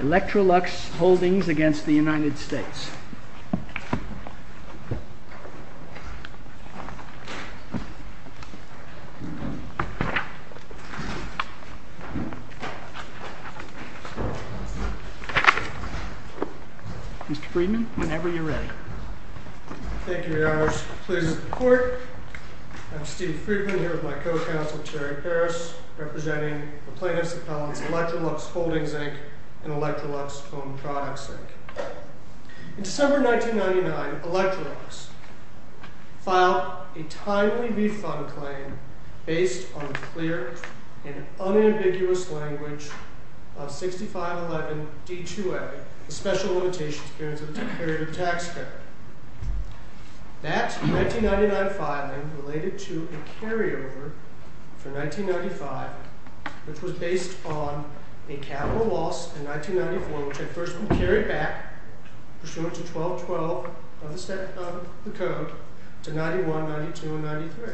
Electrolux Holdings against the United States. Mr. Friedman, whenever you're ready. Thank you, Your Honors. Pleased to report. I'm Steve Friedman, here with my co-counsel, Terry Harris, representing the plaintiffs' appellants Electrolux Holdings Inc. and Electrolux Home Products Inc. In December 1999, Electrolux filed a timely refund claim based on clear and unambiguous language of 6511 D-2A, the special limitations period of the tax credit. That 1999 filing related to a carryover for 1995, which was based on a capital loss in 1994, which had first been carried back, pursuant to 1212 of the code, to 91, 92, and 93.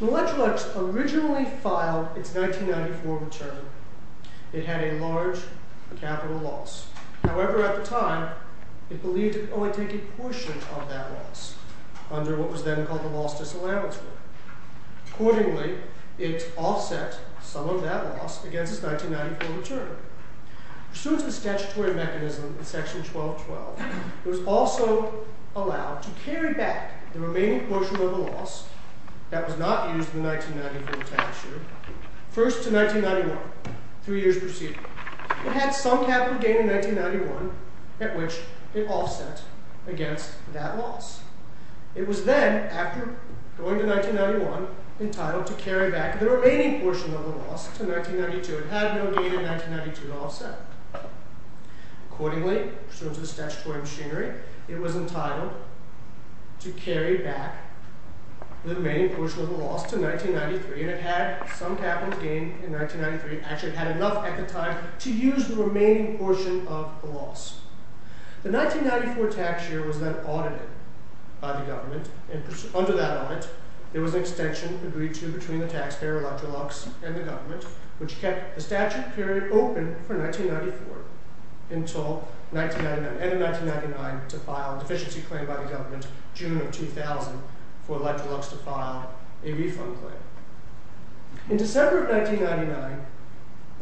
Electrolux originally filed its 1994 return. It had a large capital loss. However, at the time, it believed it could only take a portion of that loss under what was then called the loss disallowance rule. Accordingly, it offset some of that loss against its 1994 return. Pursuant to the statutory mechanism in section 1212, it was also allowed to carry back the remaining portion of the loss that was not used in the 1994 tax year, first to 1991, three years preceding. It had some capital gain in 1991 at which it offset against that loss. It was then, after going to 1991, entitled to carry back the remaining portion of the loss to 1992. It had no gain in 1992 offset. Accordingly, pursuant to the statutory machinery, it was entitled to carry back the remaining portion of the loss to 1993, and it had some capital gain in 1993. Actually, it had enough at the time to use the remaining portion of the loss. The 1994 tax year was then audited by the government. Under that audit, there was an extension agreed to between the taxpayer, Electrolux, and the government, which kept the statute period open for 1994 until 1999, and in 1999, to file a deficiency claim by the government June of 2000 for Electrolux to file a refund claim. In December of 1999,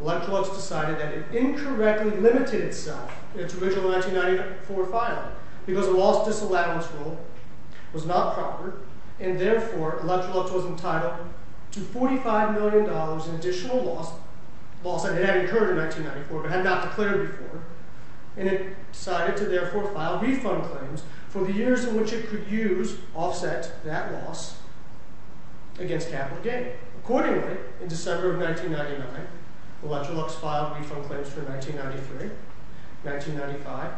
Electrolux decided that it incorrectly limited itself in its original 1994 filing because the loss disallowance rule was not proper, and therefore Electrolux was entitled to $45 million in additional loss. It had incurred in 1994, but had not declared before, and it decided to therefore file refund claims for the years in which it could offset that loss against capital gain. Accordingly, in December of 1999, Electrolux filed refund claims for 1993, 1995,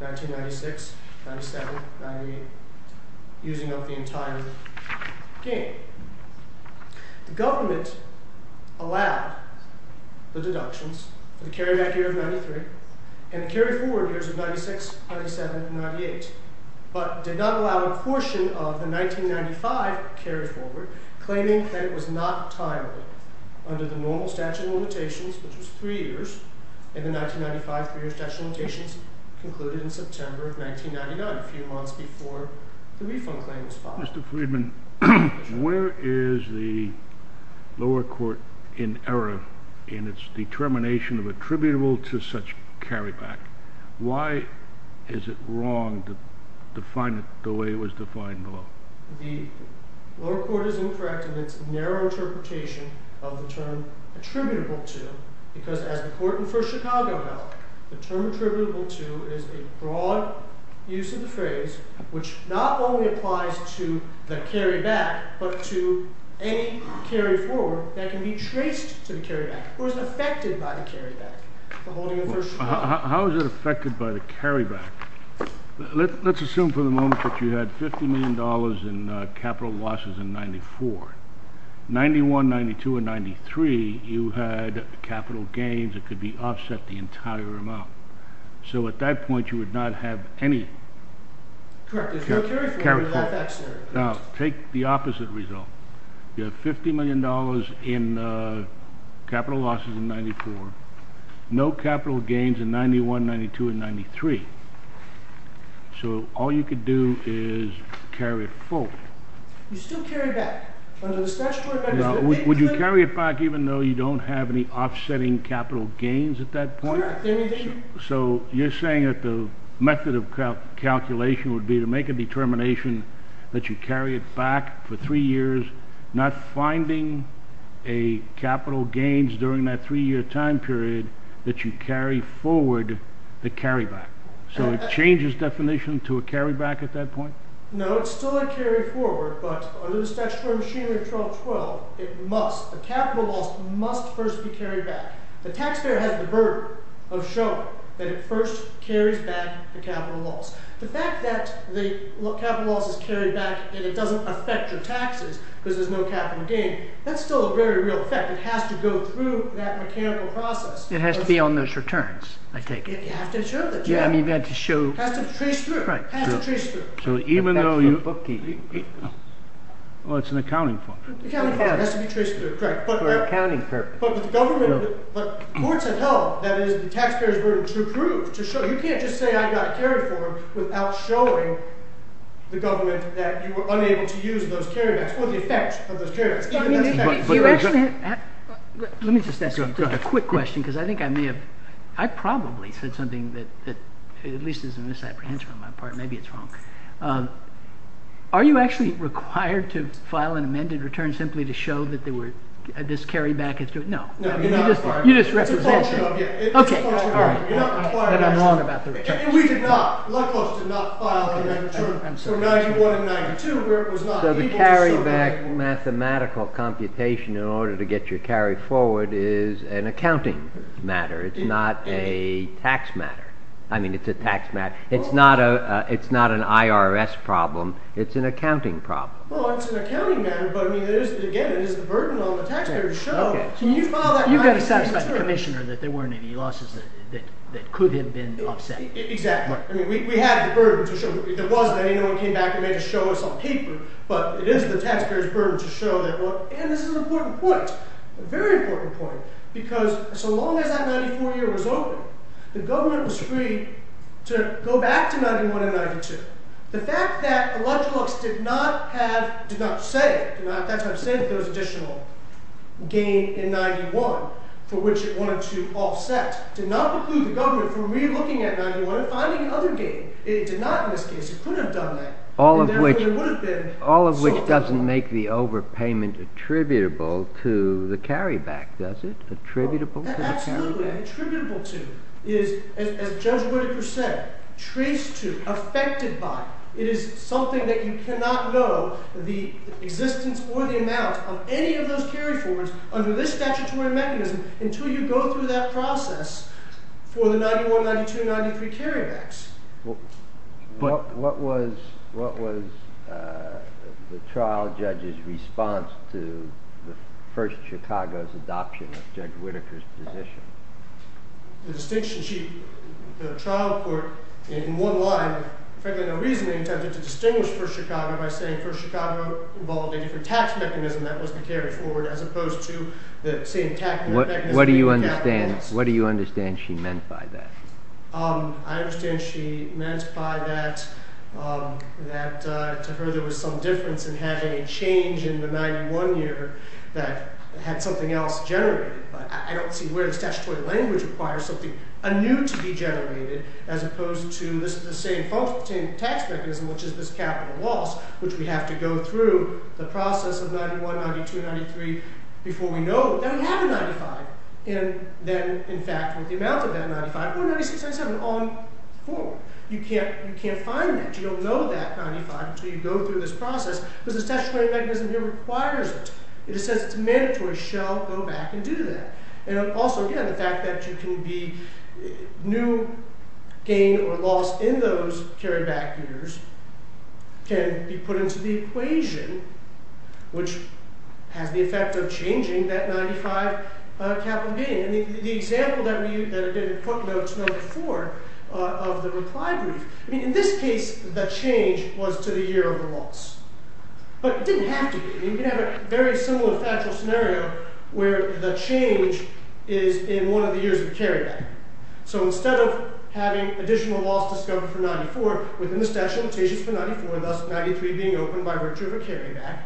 1996, 1997, 1998, using up the entire gain. The government allowed the deductions for the carryback year of 1993 and the carryforward years of 1996, 1997, and 1998, but did not allow a portion of the 1995 carryforward, claiming that it was not timely under the normal statute of limitations, which was three years, and the 1995 three-year statute of limitations concluded in September of 1999, a few months before the refund claim was filed. Mr. Friedman, where is the lower court in error in its determination of attributable to such carryback? Why is it wrong to define it the way it was defined below? The lower court is incorrect in its narrow interpretation of the term attributable to, because as the court in First Chicago held, the term attributable to is a broad use of the phrase, which not only applies to the carryback, but to any carryforward that can be traced to the carryback or is affected by the carryback. How is it affected by the carryback? Let's assume for the moment that you had $50 million in capital losses in 94. 91, 92, and 93, you had capital gains that could be offset the entire amount. So at that point, you would not have any. Correct. Now, take the opposite result. You have $50 million in capital losses in 94, no capital gains in 91, 92, and 93. So all you could do is carry it forward. You still carry it back. Would you carry it back even though you don't have any offsetting capital gains at that point? So you're saying that the method of calculation would be to make a determination that you carry it back for three years, not finding a capital gains during that three-year time period that you carry forward the carryback. So it changes definition to a carryback at that point? No, it's still a carry forward, but under the statutory machinery of 1212, a capital loss must first be carried back. The taxpayer has the burden of showing that it first carries back the capital loss. The fact that the capital loss is carried back and it doesn't affect your taxes because there's no capital gain, that's still a very real effect. It has to go through that mechanical process. It has to be on those returns, I take it. You have to show that. You have to trace through. So even though you're bookkeeping, well, it's an accounting form. The accounting form has to be traced through. Correct. For accounting purposes. But the government, courts have held that it is the taxpayer's burden to prove, to show. You can't just say I got carried forward without showing the government that you were unable to use those carrybacks or the effects of those carrybacks. Let me just ask you a quick question because I think I may have, I probably said something that at least is a misapprehension on my part, maybe it's wrong. Are you actually required to file an amended return simply to show that there were, this carryback is, no. You're not required. You're just representing. It's a misapprehension. We did not, Lutkos did not file an amended return from 91 and 92 where it was not. So the carryback mathematical computation in order to get your carry forward is an accounting matter. It's not a tax matter. I mean, it's a tax matter. It's not a, it's not an IRS problem. It's an accounting problem. Well, it's an accounting matter, but I mean, it is, again, it is the burden on the taxpayer to show. Can you file that amended return? You've got to satisfy the commissioner that there weren't any losses that could have been offset. Exactly. I mean, we have the burden to show that there wasn't. I mean, no one came back and made a show us on paper, but it is the taxpayer's burden to show that, well, and this is an important point, a very important point, because so long as that 94 year was open, the government was free to go back to 91 and 92. The fact that Lutkos did not have, did not say, did not, that's what I'm saying, that there was additional gain in 91 for which it wanted to offset, did not preclude the government from re-looking at 91 and finding another gain. It did not in this case. It couldn't have done that. All of which, all of which doesn't make the overpayment attributable to the carryback, does it? Attributable to the carryback? Absolutely. Attributable to is, as Judge Whitaker said, traced to, affected by. It is something that you cannot know the existence or the amount of any of those carry-forwards under this statutory mechanism until you go through that process for the 91, 92, 93 carrybacks. What was the trial judge's response to the First Chicago's adoption of Judge Whitaker's position? The distinction sheet, the trial court in one line, frankly no reason, they intended to distinguish First Chicago by saying First Chicago involved a different tax mechanism that was the carry-forward as opposed to the same tax mechanism. What do you understand she meant by that? I understand she meant by that, that to her there was some difference in having a change in the 91 year that had something else generated. But I don't see where the statutory language requires something anew to be generated as opposed to this is the same tax mechanism which is this capital loss which we have to go through the process of 91, 92, 93 before we know that we have a 95 and then in fact with the amount of that 95 or 96, 97 on forward. You can't find that, you don't know that 95 until you go through this process because the statutory mechanism here requires it. It says it's mandatory, shall go back and do that. And also again the fact that you can be new gain or be put into the equation which has the effect of changing that 95 capital gain. And the example that we that I didn't talk about before of the reply brief, I mean in this case the change was to the year of the loss. But it didn't have to be, you can have a very similar factual scenario where the change is in one of the years of carryback. So instead of having additional loss discovered for 94 within the statutory limitations for 94, thus 93 being open by virtue of a carryback,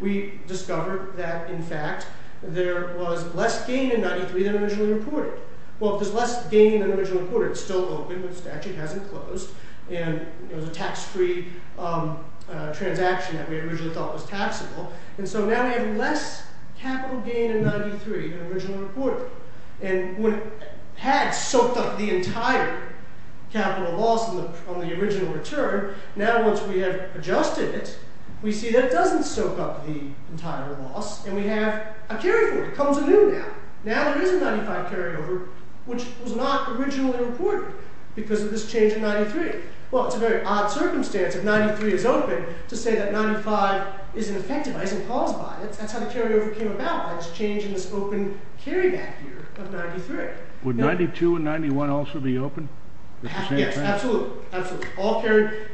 we discovered that in fact there was less gain in 93 than originally reported. Well if there's less gain than originally reported, it's still open but the statute hasn't closed and it was a tax-free transaction that we originally thought was taxable. And so now we have less capital gain in 93 than originally reported. And when it had soaked up the entire capital loss on the original return, now once we have adjusted it, we see that it doesn't soak up the entire loss and we have a carryover. It comes anew now. Now there is a 95 carryover which was not originally reported because of this change in 93. Well it's a very odd circumstance if 93 is open to say that there's a change in this open carryback year of 93. Would 92 and 91 also be open? Yes, absolutely. All carryback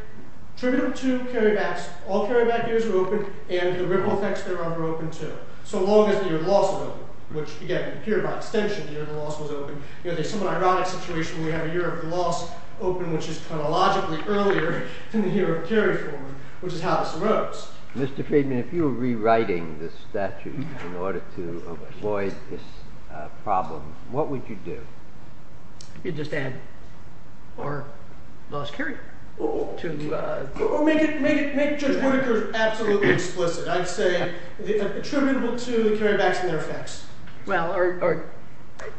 years are open and the ripple effects thereof are open too. So long as the year of loss was open, which again appeared by extension the year the loss was open. You know there's some ironic situation where we have a year of loss open which is chronologically earlier than the year of carryover, which is how this arose. Mr. Friedman, if you were rewriting this statute in order to avoid this problem, what would you do? You'd just add more loss carryover. Or make Judge Whittaker's absolutely explicit. I'd say attributable to the carrybacks and their effects. Well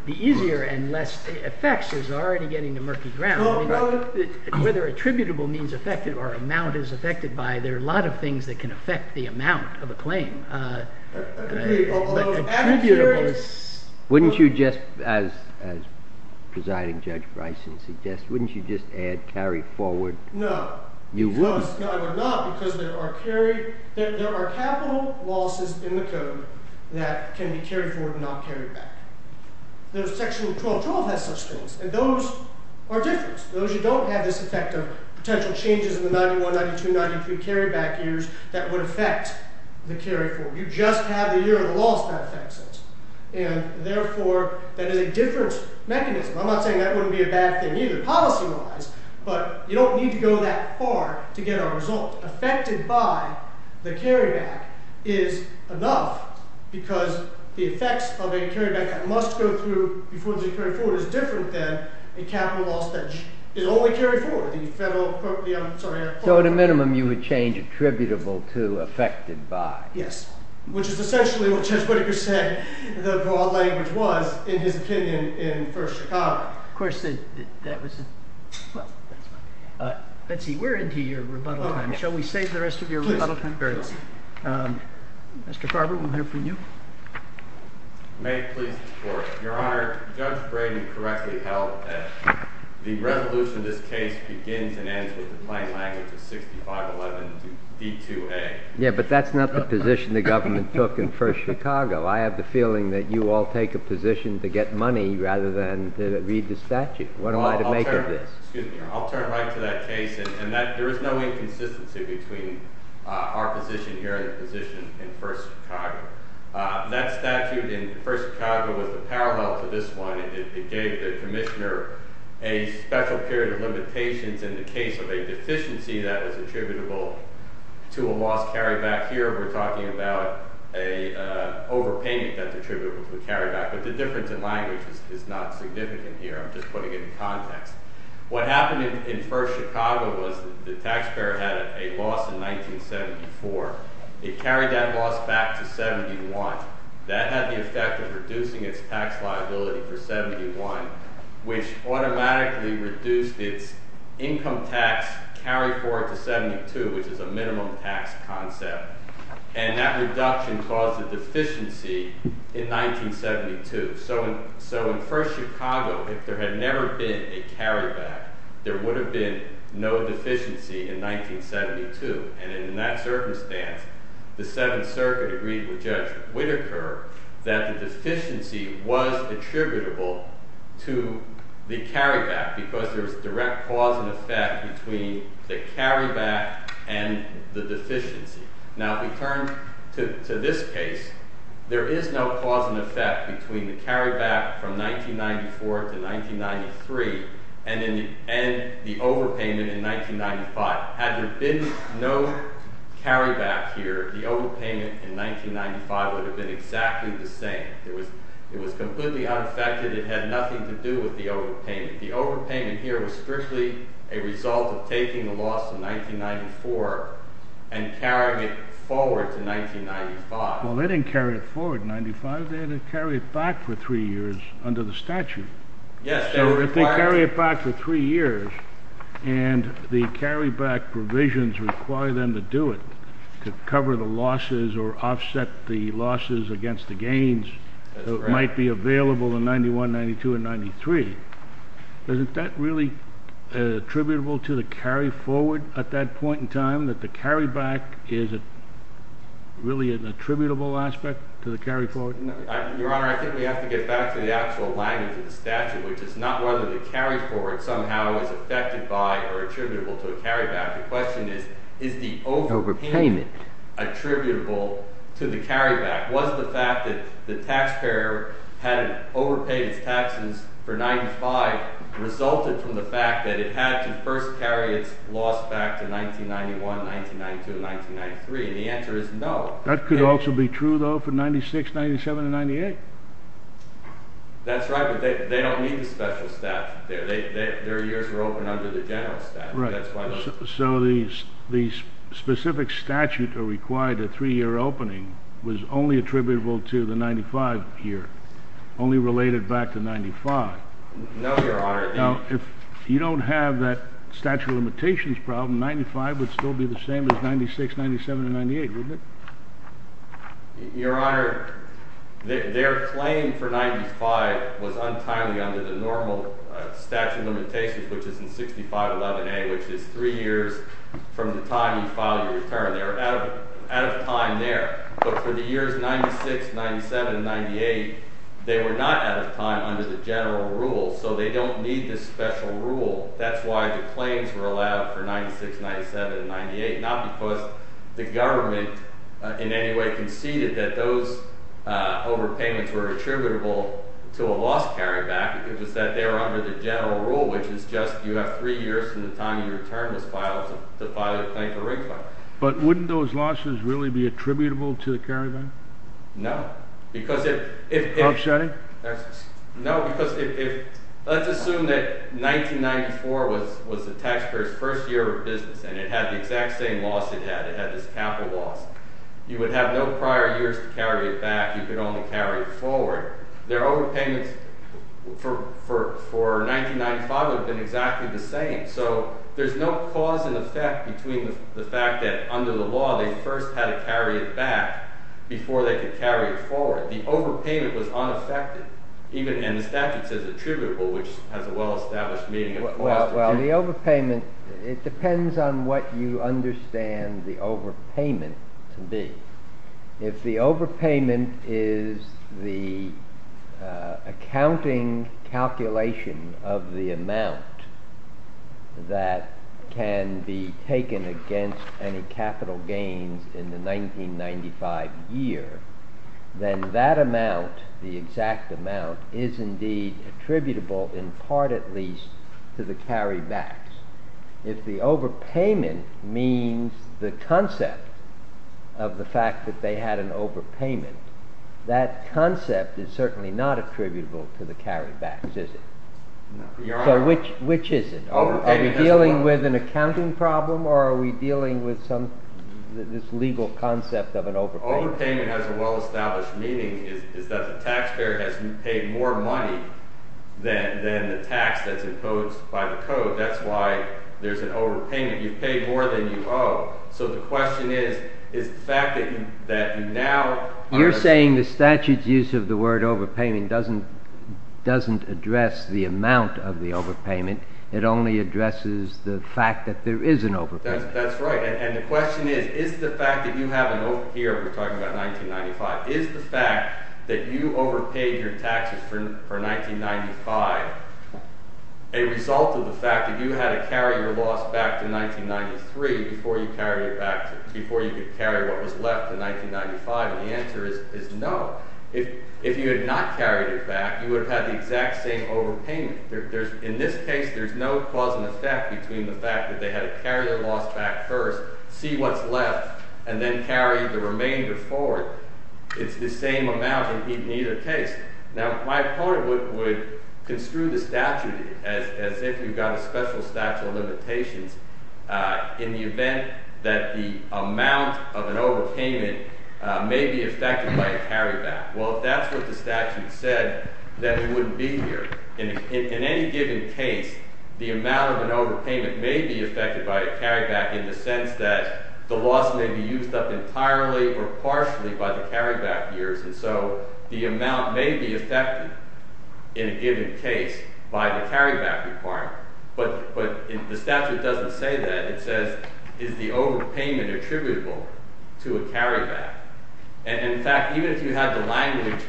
the easier and less effects is already getting to murky ground. Whether attributable means affected or amount is affected by, there are a lot of things that can affect the attributable. Wouldn't you just, as Presiding Judge Bryson suggests, wouldn't you just add carry forward? No. You wouldn't. No I would not because there are capital losses in the code that can be carried forward and not carried back. Section 112 has such things and those are different. Those you don't have this effect of potential changes in the 91, 92, 93 carryback years that would affect the carry forward. You just have the year of the loss that affects it and therefore that is a different mechanism. I'm not saying that wouldn't be a bad thing either policy-wise but you don't need to go that far to get a result. Affected by the carryback is enough because the effects of a carryback that must go through before they carry forward is different than a capital loss that is only carried forward. So at a minimum you would change attributable to affected by. Yes, which is essentially what Judge Whittaker said the broad language was in his opinion in First Chicago. Of course that was, well that's fine. Let's see we're into your rebuttal time. Shall we save the rest of your rebuttal time? Very well. Mr. Carver we'll hear you. May I please report? Your Honor, Judge Brady correctly held that the resolution of this case begins and ends with the plain language of 6511 to D2A. Yeah but that's not the position the government took in First Chicago. I have the feeling that you all take a position to get money rather than to read the statute. What am I to make of this? Excuse me, I'll turn right to that case and that there is no inconsistency between our position here and the position in First Chicago. That statute in First Chicago was the parallel to this one. It gave the commissioner a special period of limitations in the case of a deficiency that was attributable to a lost carryback. Here we're talking about a overpayment that's attributable to a carryback but the difference in language is not significant here. I'm just putting it in context. What happened in First Chicago was the taxpayer had a loss in 1974. It carried that loss back to 71. That had the effect of reducing its tax liability for 71 which automatically reduced its income tax carry forward to 72 which is a minimum tax concept and that reduction caused a deficiency in 1972. So in First Chicago if there had never been a carryback there would have been no deficiency in 1972 and in that circumstance the Seventh Circuit agreed with Judge Whitaker that the deficiency was attributable to the carryback because there was direct cause and effect between the carryback from 1994 to 1993 and the overpayment in 1995. Had there been no carryback here the overpayment in 1995 would have been exactly the same. It was completely unaffected. It had nothing to do with the overpayment. The overpayment here was strictly a result of taking the loss in 1994 and carrying it forward to 1995. Well they didn't carry it forward in 1995. They had to carry it back for three years under the statute. Yes. So if they carry it back for three years and the carryback provisions require them to do it to cover the losses or offset the losses against the gains so it might be available in 91, 92 and 93. Isn't that really attributable to the carry forward at that point in time that the carryback is a really an attributable aspect to the carry forward? Your Honor I think we have to get back to the actual language of the statute which is not whether the carry forward somehow is affected by or attributable to a carryback. The question is is the overpayment attributable to the carryback? Was the fact that the taxpayer had overpaid its taxes for 95 resulted from the fact that it had to first carry its loss back to 1991, 1992, 1993 and the answer is no. That could also be true though for 96, 97 and 98. That's right but they don't need the special statute there. Their years were open under the general statute. So the specific statute required a three-year opening was only attributable to the 95 year, only related back to 95. No Your Honor. Now if you don't have that statute of limitations problem 95 would still be the same as 96, 97 and 98 wouldn't it? Your Honor their claim for 95 was untimely under the normal statute of limitations which is in 6511a which is three years from the time you file your return. They're out of time there but for the years 96, 97 and 98 they were not out of time under the general rule so they don't need this special rule. That's why the claims were allowed for 96, 97 and 98 not because the government in any way conceded that those overpayments were attributable to a loss carryback it was that they were under the general rule which is just you have three years from the time your return was filed to file your claim for refund. But wouldn't those losses really be attributable to the carryback? No because if let's assume that 1994 was the taxpayer's first year of business and it had the exact same loss it had. It had this capital loss. You would have no prior years to carry it back you could only carry it forward. Their overpayments for 1995 have been exactly the same so there's no cause and effect between the fact that under the law they first had to carry it back before they could carry it forward. The overpayment was unaffected even and the statute says attributable which has a well-established meaning. Well the overpayment it depends on what you understand the overpayment to be. If the overpayment is the accounting calculation of the amount that can be taken against any capital gains in the 1995 year then that amount the exact amount is indeed attributable in part at least to the carrybacks. If the overpayment means the concept of the fact that they had an overpayment that concept is certainly not attributable to the which is it? Are we dealing with an accounting problem or are we dealing with some this legal concept of an overpayment? Overpayment has a well-established meaning is that the taxpayer has paid more money than the tax that's imposed by the code that's why there's an overpayment. You've paid more than you owe so the question is is the fact that you that you now... You're saying the statute's use of the word overpayment doesn't address the amount of the overpayment it only addresses the fact that there is an overpayment. That's right and the question is is the fact that you have an overpayment here we're talking about 1995 is the fact that you overpaid your taxes for 1995 a result of the fact that you had to carry your loss back to 1993 before you carried it back to before you could carry what was left in 1995 and the answer is no. If you had not carried it back you would have had the exact same overpayment. There's in this case there's no cause and effect between the fact that they had to carry their loss back first see what's left and then carry the remainder forward. It's the same amount in either case. Now my opponent would construe the statute as if you've got a special statute of limitations in the event that the amount of an overpayment may be affected by a carryback. Well if that's what the statute said then it wouldn't be here. In any given case the amount of an overpayment may be affected by a carryback in the sense that the loss may be used up entirely or partially by the carryback years and so the amount may be affected in a given case by the carryback part but but if the statute doesn't say that it says is the overpayment attributable to a carryback and in fact even if you had the language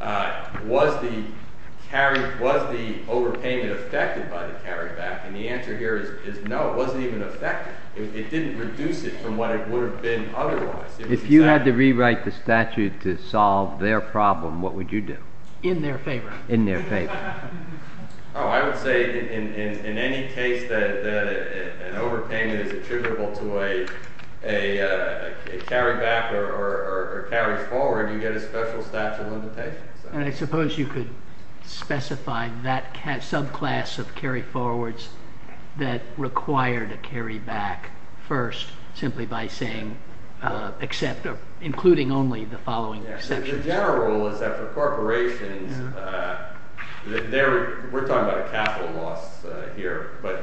uh was the carry was the overpayment affected by the carryback and the answer here is no it wasn't even effective it didn't reduce it from what it would have been otherwise. If you had to rewrite the statute to solve their problem what would you do? In their favor. In their favor. Oh I would say in in any case that that an overpayment is attributable to a a carryback or carry forward you get a special statute of limitations. And I suppose you could specify that subclass of carry forwards that required a carry back first simply by saying uh except or including only the following exceptions. The general rule is that for corporations uh they're we're talking about a capital loss uh here but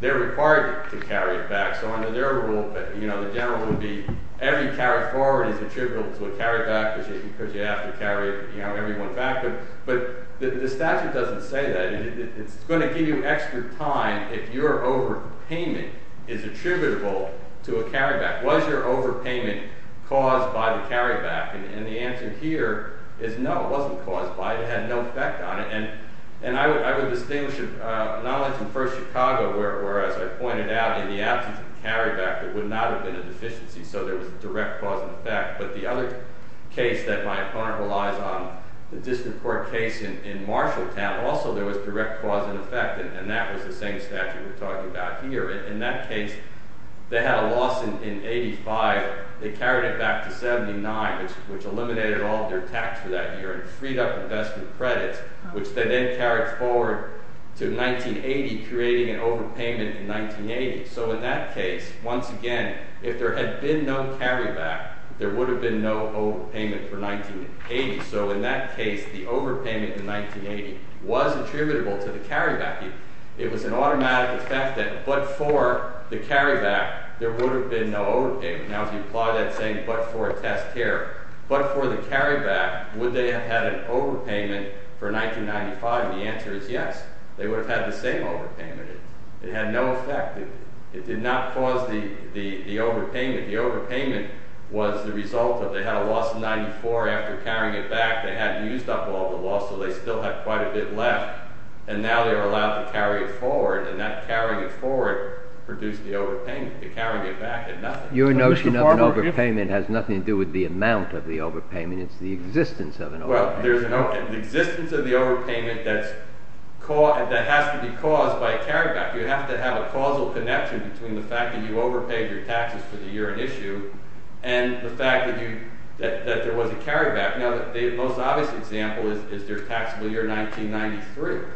they're required to carry it back so under their rule but you know the general would be every carry forward is attributable to a carryback because you have to carry it you know every one factor but the statute doesn't say that it's going to give you extra time if your over payment is attributable to a carryback. Was your overpayment caused by the carryback? And the answer here is no it wasn't caused by it had no effect on it and and I would I would distinguish uh not only from First Chicago where as I pointed out in the absence of carryback there would not have been a deficiency so there was a direct cause and effect but the other case that my opponent relies on the district court case in in Marshalltown also there was direct cause and effect and that was the same statute we're talking about here in that case they had a loss in in 85 they carried it back to 79 which which eliminated all their tax for that year and freed up investment credits which they then carried forward to 1980 creating an overpayment in 1980 so in that case once again if there had been no carryback there would have been no overpayment for 1980 so in that case the overpayment in 1980 was attributable to the carryback it was an automatic effect that but for the carryback there would have been no overpayment now if you apply that saying but for a test here but for the carryback would they have had an overpayment for 1995 the answer is yes they would have had the same overpayment it had no effect it did not cause the the the overpayment the overpayment was the result of they had a loss of 94 after carrying it back they hadn't used up all the loss so they still had quite a bit left and now they are allowed to carry it forward and that carrying it forward produced the overpayment to carry it back and nothing your notion of an overpayment has nothing to do with the amount of the overpayment it's the existence of an well there's an existence of the overpayment that's caught that has to be caused by a carryback you have to have a causal connection between the fact that you overpaid your taxes for the year issue and the fact that you that there was a carryback now the most obvious example is their taxable year 1993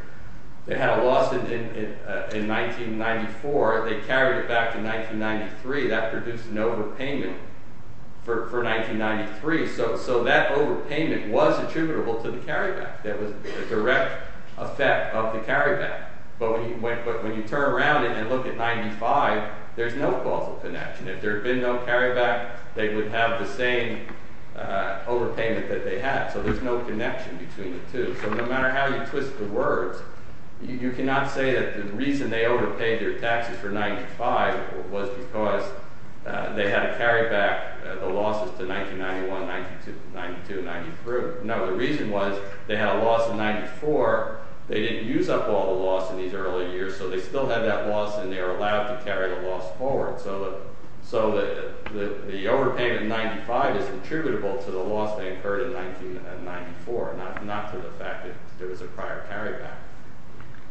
they had a loss in in in 1994 they carried it back to 1993 that produced an overpayment for for 1993 so so that overpayment was attributable to the carryback that was the direct effect of the carryback but when you went but when you turn around and look at 95 there's no causal connection if there had been no carryback they would have the same overpayment that they had so there's no connection between the two so no matter how you twist the words you cannot say that the reason they overpaid their taxes for 95 was because they had to carry back the losses to 1991 92 92 93 no the reason was they had a loss of 94 they didn't use up all the loss in these early years so they still have that loss and they are allowed to carry the loss forward so that so that the overpayment 95 is attributable to the loss that occurred in 1994 not not to the fact that there was a prior carryback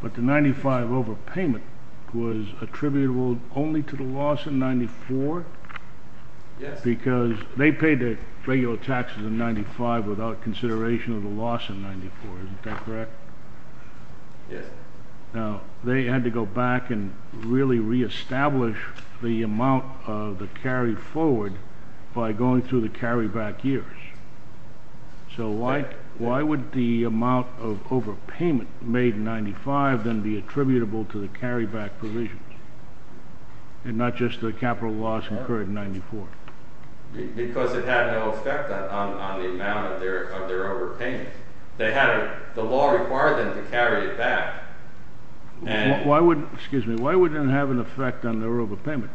but the 95 overpayment was attributable only to the loss in 94 yes because they paid their regular taxes in 95 without consideration of the loss in 94 isn't that correct yes now they had to go back and really re-establish the amount of the carry forward by going through the carryback years so like why would the amount of overpayment made in 95 then be attributable to the carryback provisions and not just the capital loss incurred in 94 because it had no effect on the amount of their overpayment they had the law required them to carry it back and why would excuse me why would it have an effect on their overpayment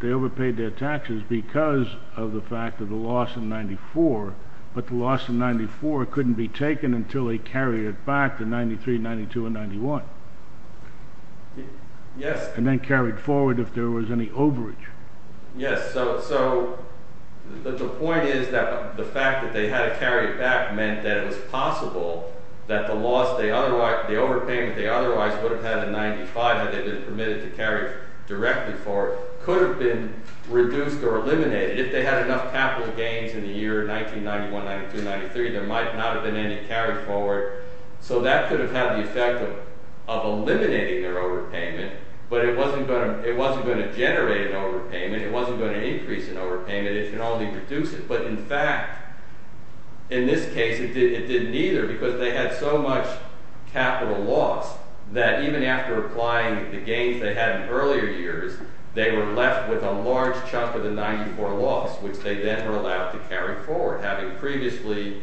they overpaid their taxes because of the fact of the loss in 94 but the loss in 94 couldn't be taken until they carry it back to 93 92 and 91 yes and then carried forward if there was any coverage yes so the point is that the fact that they had to carry it back meant that it was possible that the loss they otherwise the overpayment they otherwise would have had in 95 had they been permitted to carry directly for could have been reduced or eliminated if they had enough capital gains in the year 1991 92 93 there might not have been any carried forward so that could have had the effect of eliminating their overpayment but it wasn't going to it wasn't going to generate an overpayment it wasn't going to increase an overpayment it can only reduce it but in fact in this case it did it didn't either because they had so much capital loss that even after applying the gains they had in earlier years they were left with a large chunk of the 94 loss which they then were allowed to carry forward having previously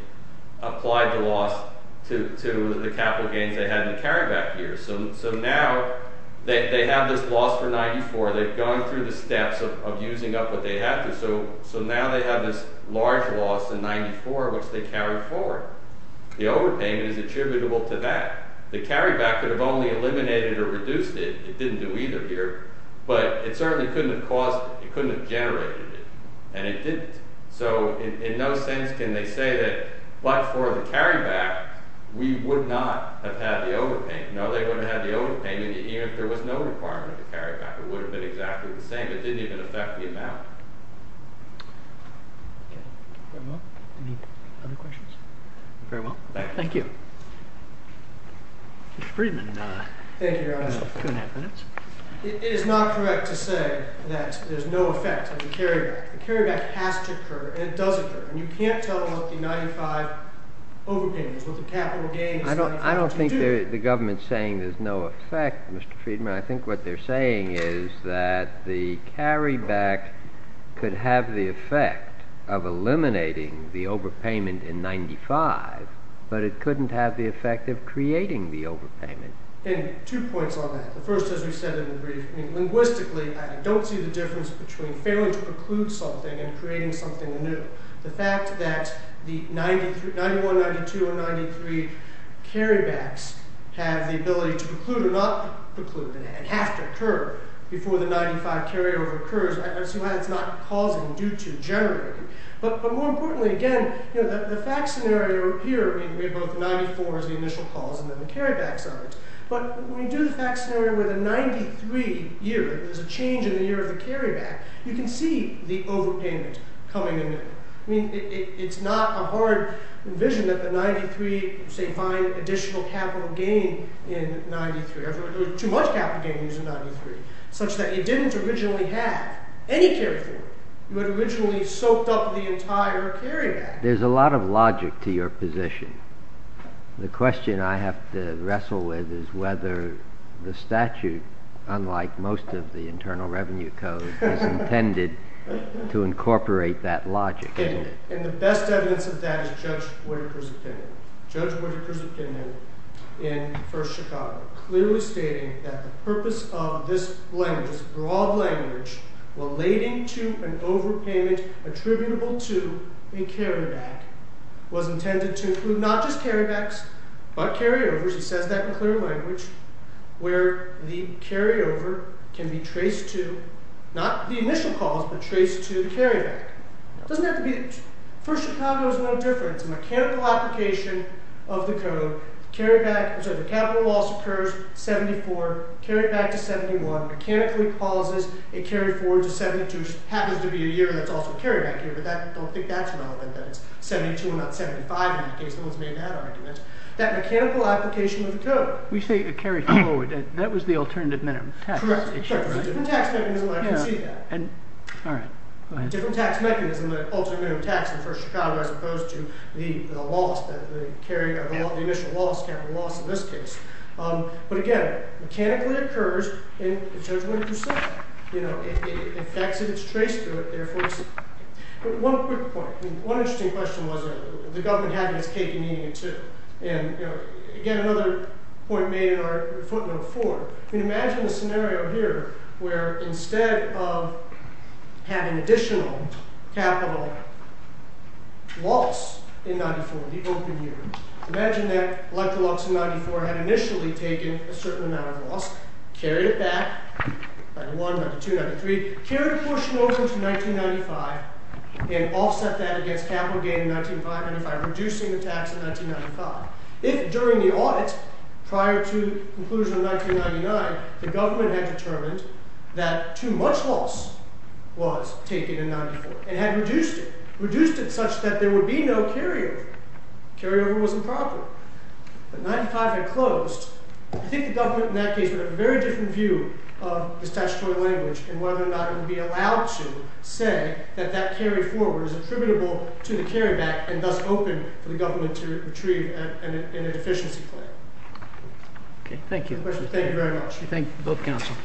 applied the loss to to the capital gains they had in the carryback years so so now they have this loss for 94 they've gone through the steps of using up what they had to so so now they have this large loss in 94 which they carry forward the overpayment is attributable to that the carryback could have only eliminated or reduced it it didn't do either here but it certainly couldn't have caused it it couldn't have generated and it didn't so in no sense can they say that but for the carryback we would not have had the overpayment no they wouldn't have the overpayment even if there was no requirement to carry back it would have been exactly the same it didn't even affect the amount okay well any other questions very well thank you mr freedman uh thank you two and a half minutes it is not correct to say that there's no effect of the carryback the carryback has to occur and it does occur and you can't tell about the 95 overpayments with the capital gain i don't i don't think the government's saying there's no effect mr freedman i think what they're saying is that the carryback could have the effect of eliminating the overpayment in 95 but it couldn't have the effect of creating the overpayment and two points on that the first as we said in the brief i mean linguistically i don't see the difference between failing to preclude something and creating something new the fact that the 93 91 92 or 93 carrybacks have the ability to preclude or not preclude and have to occur before the 95 carryover occurs i see why it's not causing due to generating but more importantly again you know the fact scenario here i mean we have both 94 as the initial cause and then the but when we do the fact scenario with a 93 year there's a change in the year of the carryback you can see the overpayment coming in i mean it's not a hard vision that the 93 say find additional capital gain in 93 there's too much capital gains in 93 such that it didn't originally have any carry through you had originally soaked up the entire carryback there's a lot of logic to your position the question i have to wrestle with is whether the statute unlike most of the internal revenue code is intended to incorporate that logic isn't it and the best evidence of that is judge whitaker's opinion judge whitaker's opinion in first chicago clearly stating that the purpose of this language broad language relating to an overpayment attributable to a carryback was intended to include not just carrybacks but carryovers he says that in clear language where the carryover can be traced to not the initial calls but traced to the carryback doesn't have to be first chicago is no different it's a mechanical application of the code carryback so the capital loss occurs 74 carried back to 71 mechanically causes a carry forward happens to be a year that's also carried back here but that don't think that's relevant that it's 72 not 75 in the case no one's made that argument that mechanical application of the code we say a carry forward that was the alternative minimum tax all right different tax mechanism the alternative tax in first chicago as opposed to the loss that the carry of the initial loss capital loss in this case um but again mechanically occurs in the judgment you said you know it affects it it's traced through it therefore one quick point one interesting question was the government having its cake and eating it too and you know again another point made in our footnote four i mean imagine the scenario here where instead of having additional capital loss in 94 in the open year imagine that 94 had initially taken a certain amount of loss carried it back by the 1993 carried a portion over to 1995 and offset that against capital gain in 1995 reducing the tax in 1995 if during the audit prior to the conclusion of 1999 the government had determined that too much loss was taken in 94 and had reduced it reduced it such that there would be no carrier carrier was improper but 95 had closed i think the government in that case would have a very different view of the statutory language and whether or not it would be allowed to say that that carry forward is attributable to the carryback and thus open for the government to retrieve an inefficiency claim okay thank you thank you very much thank you both counsel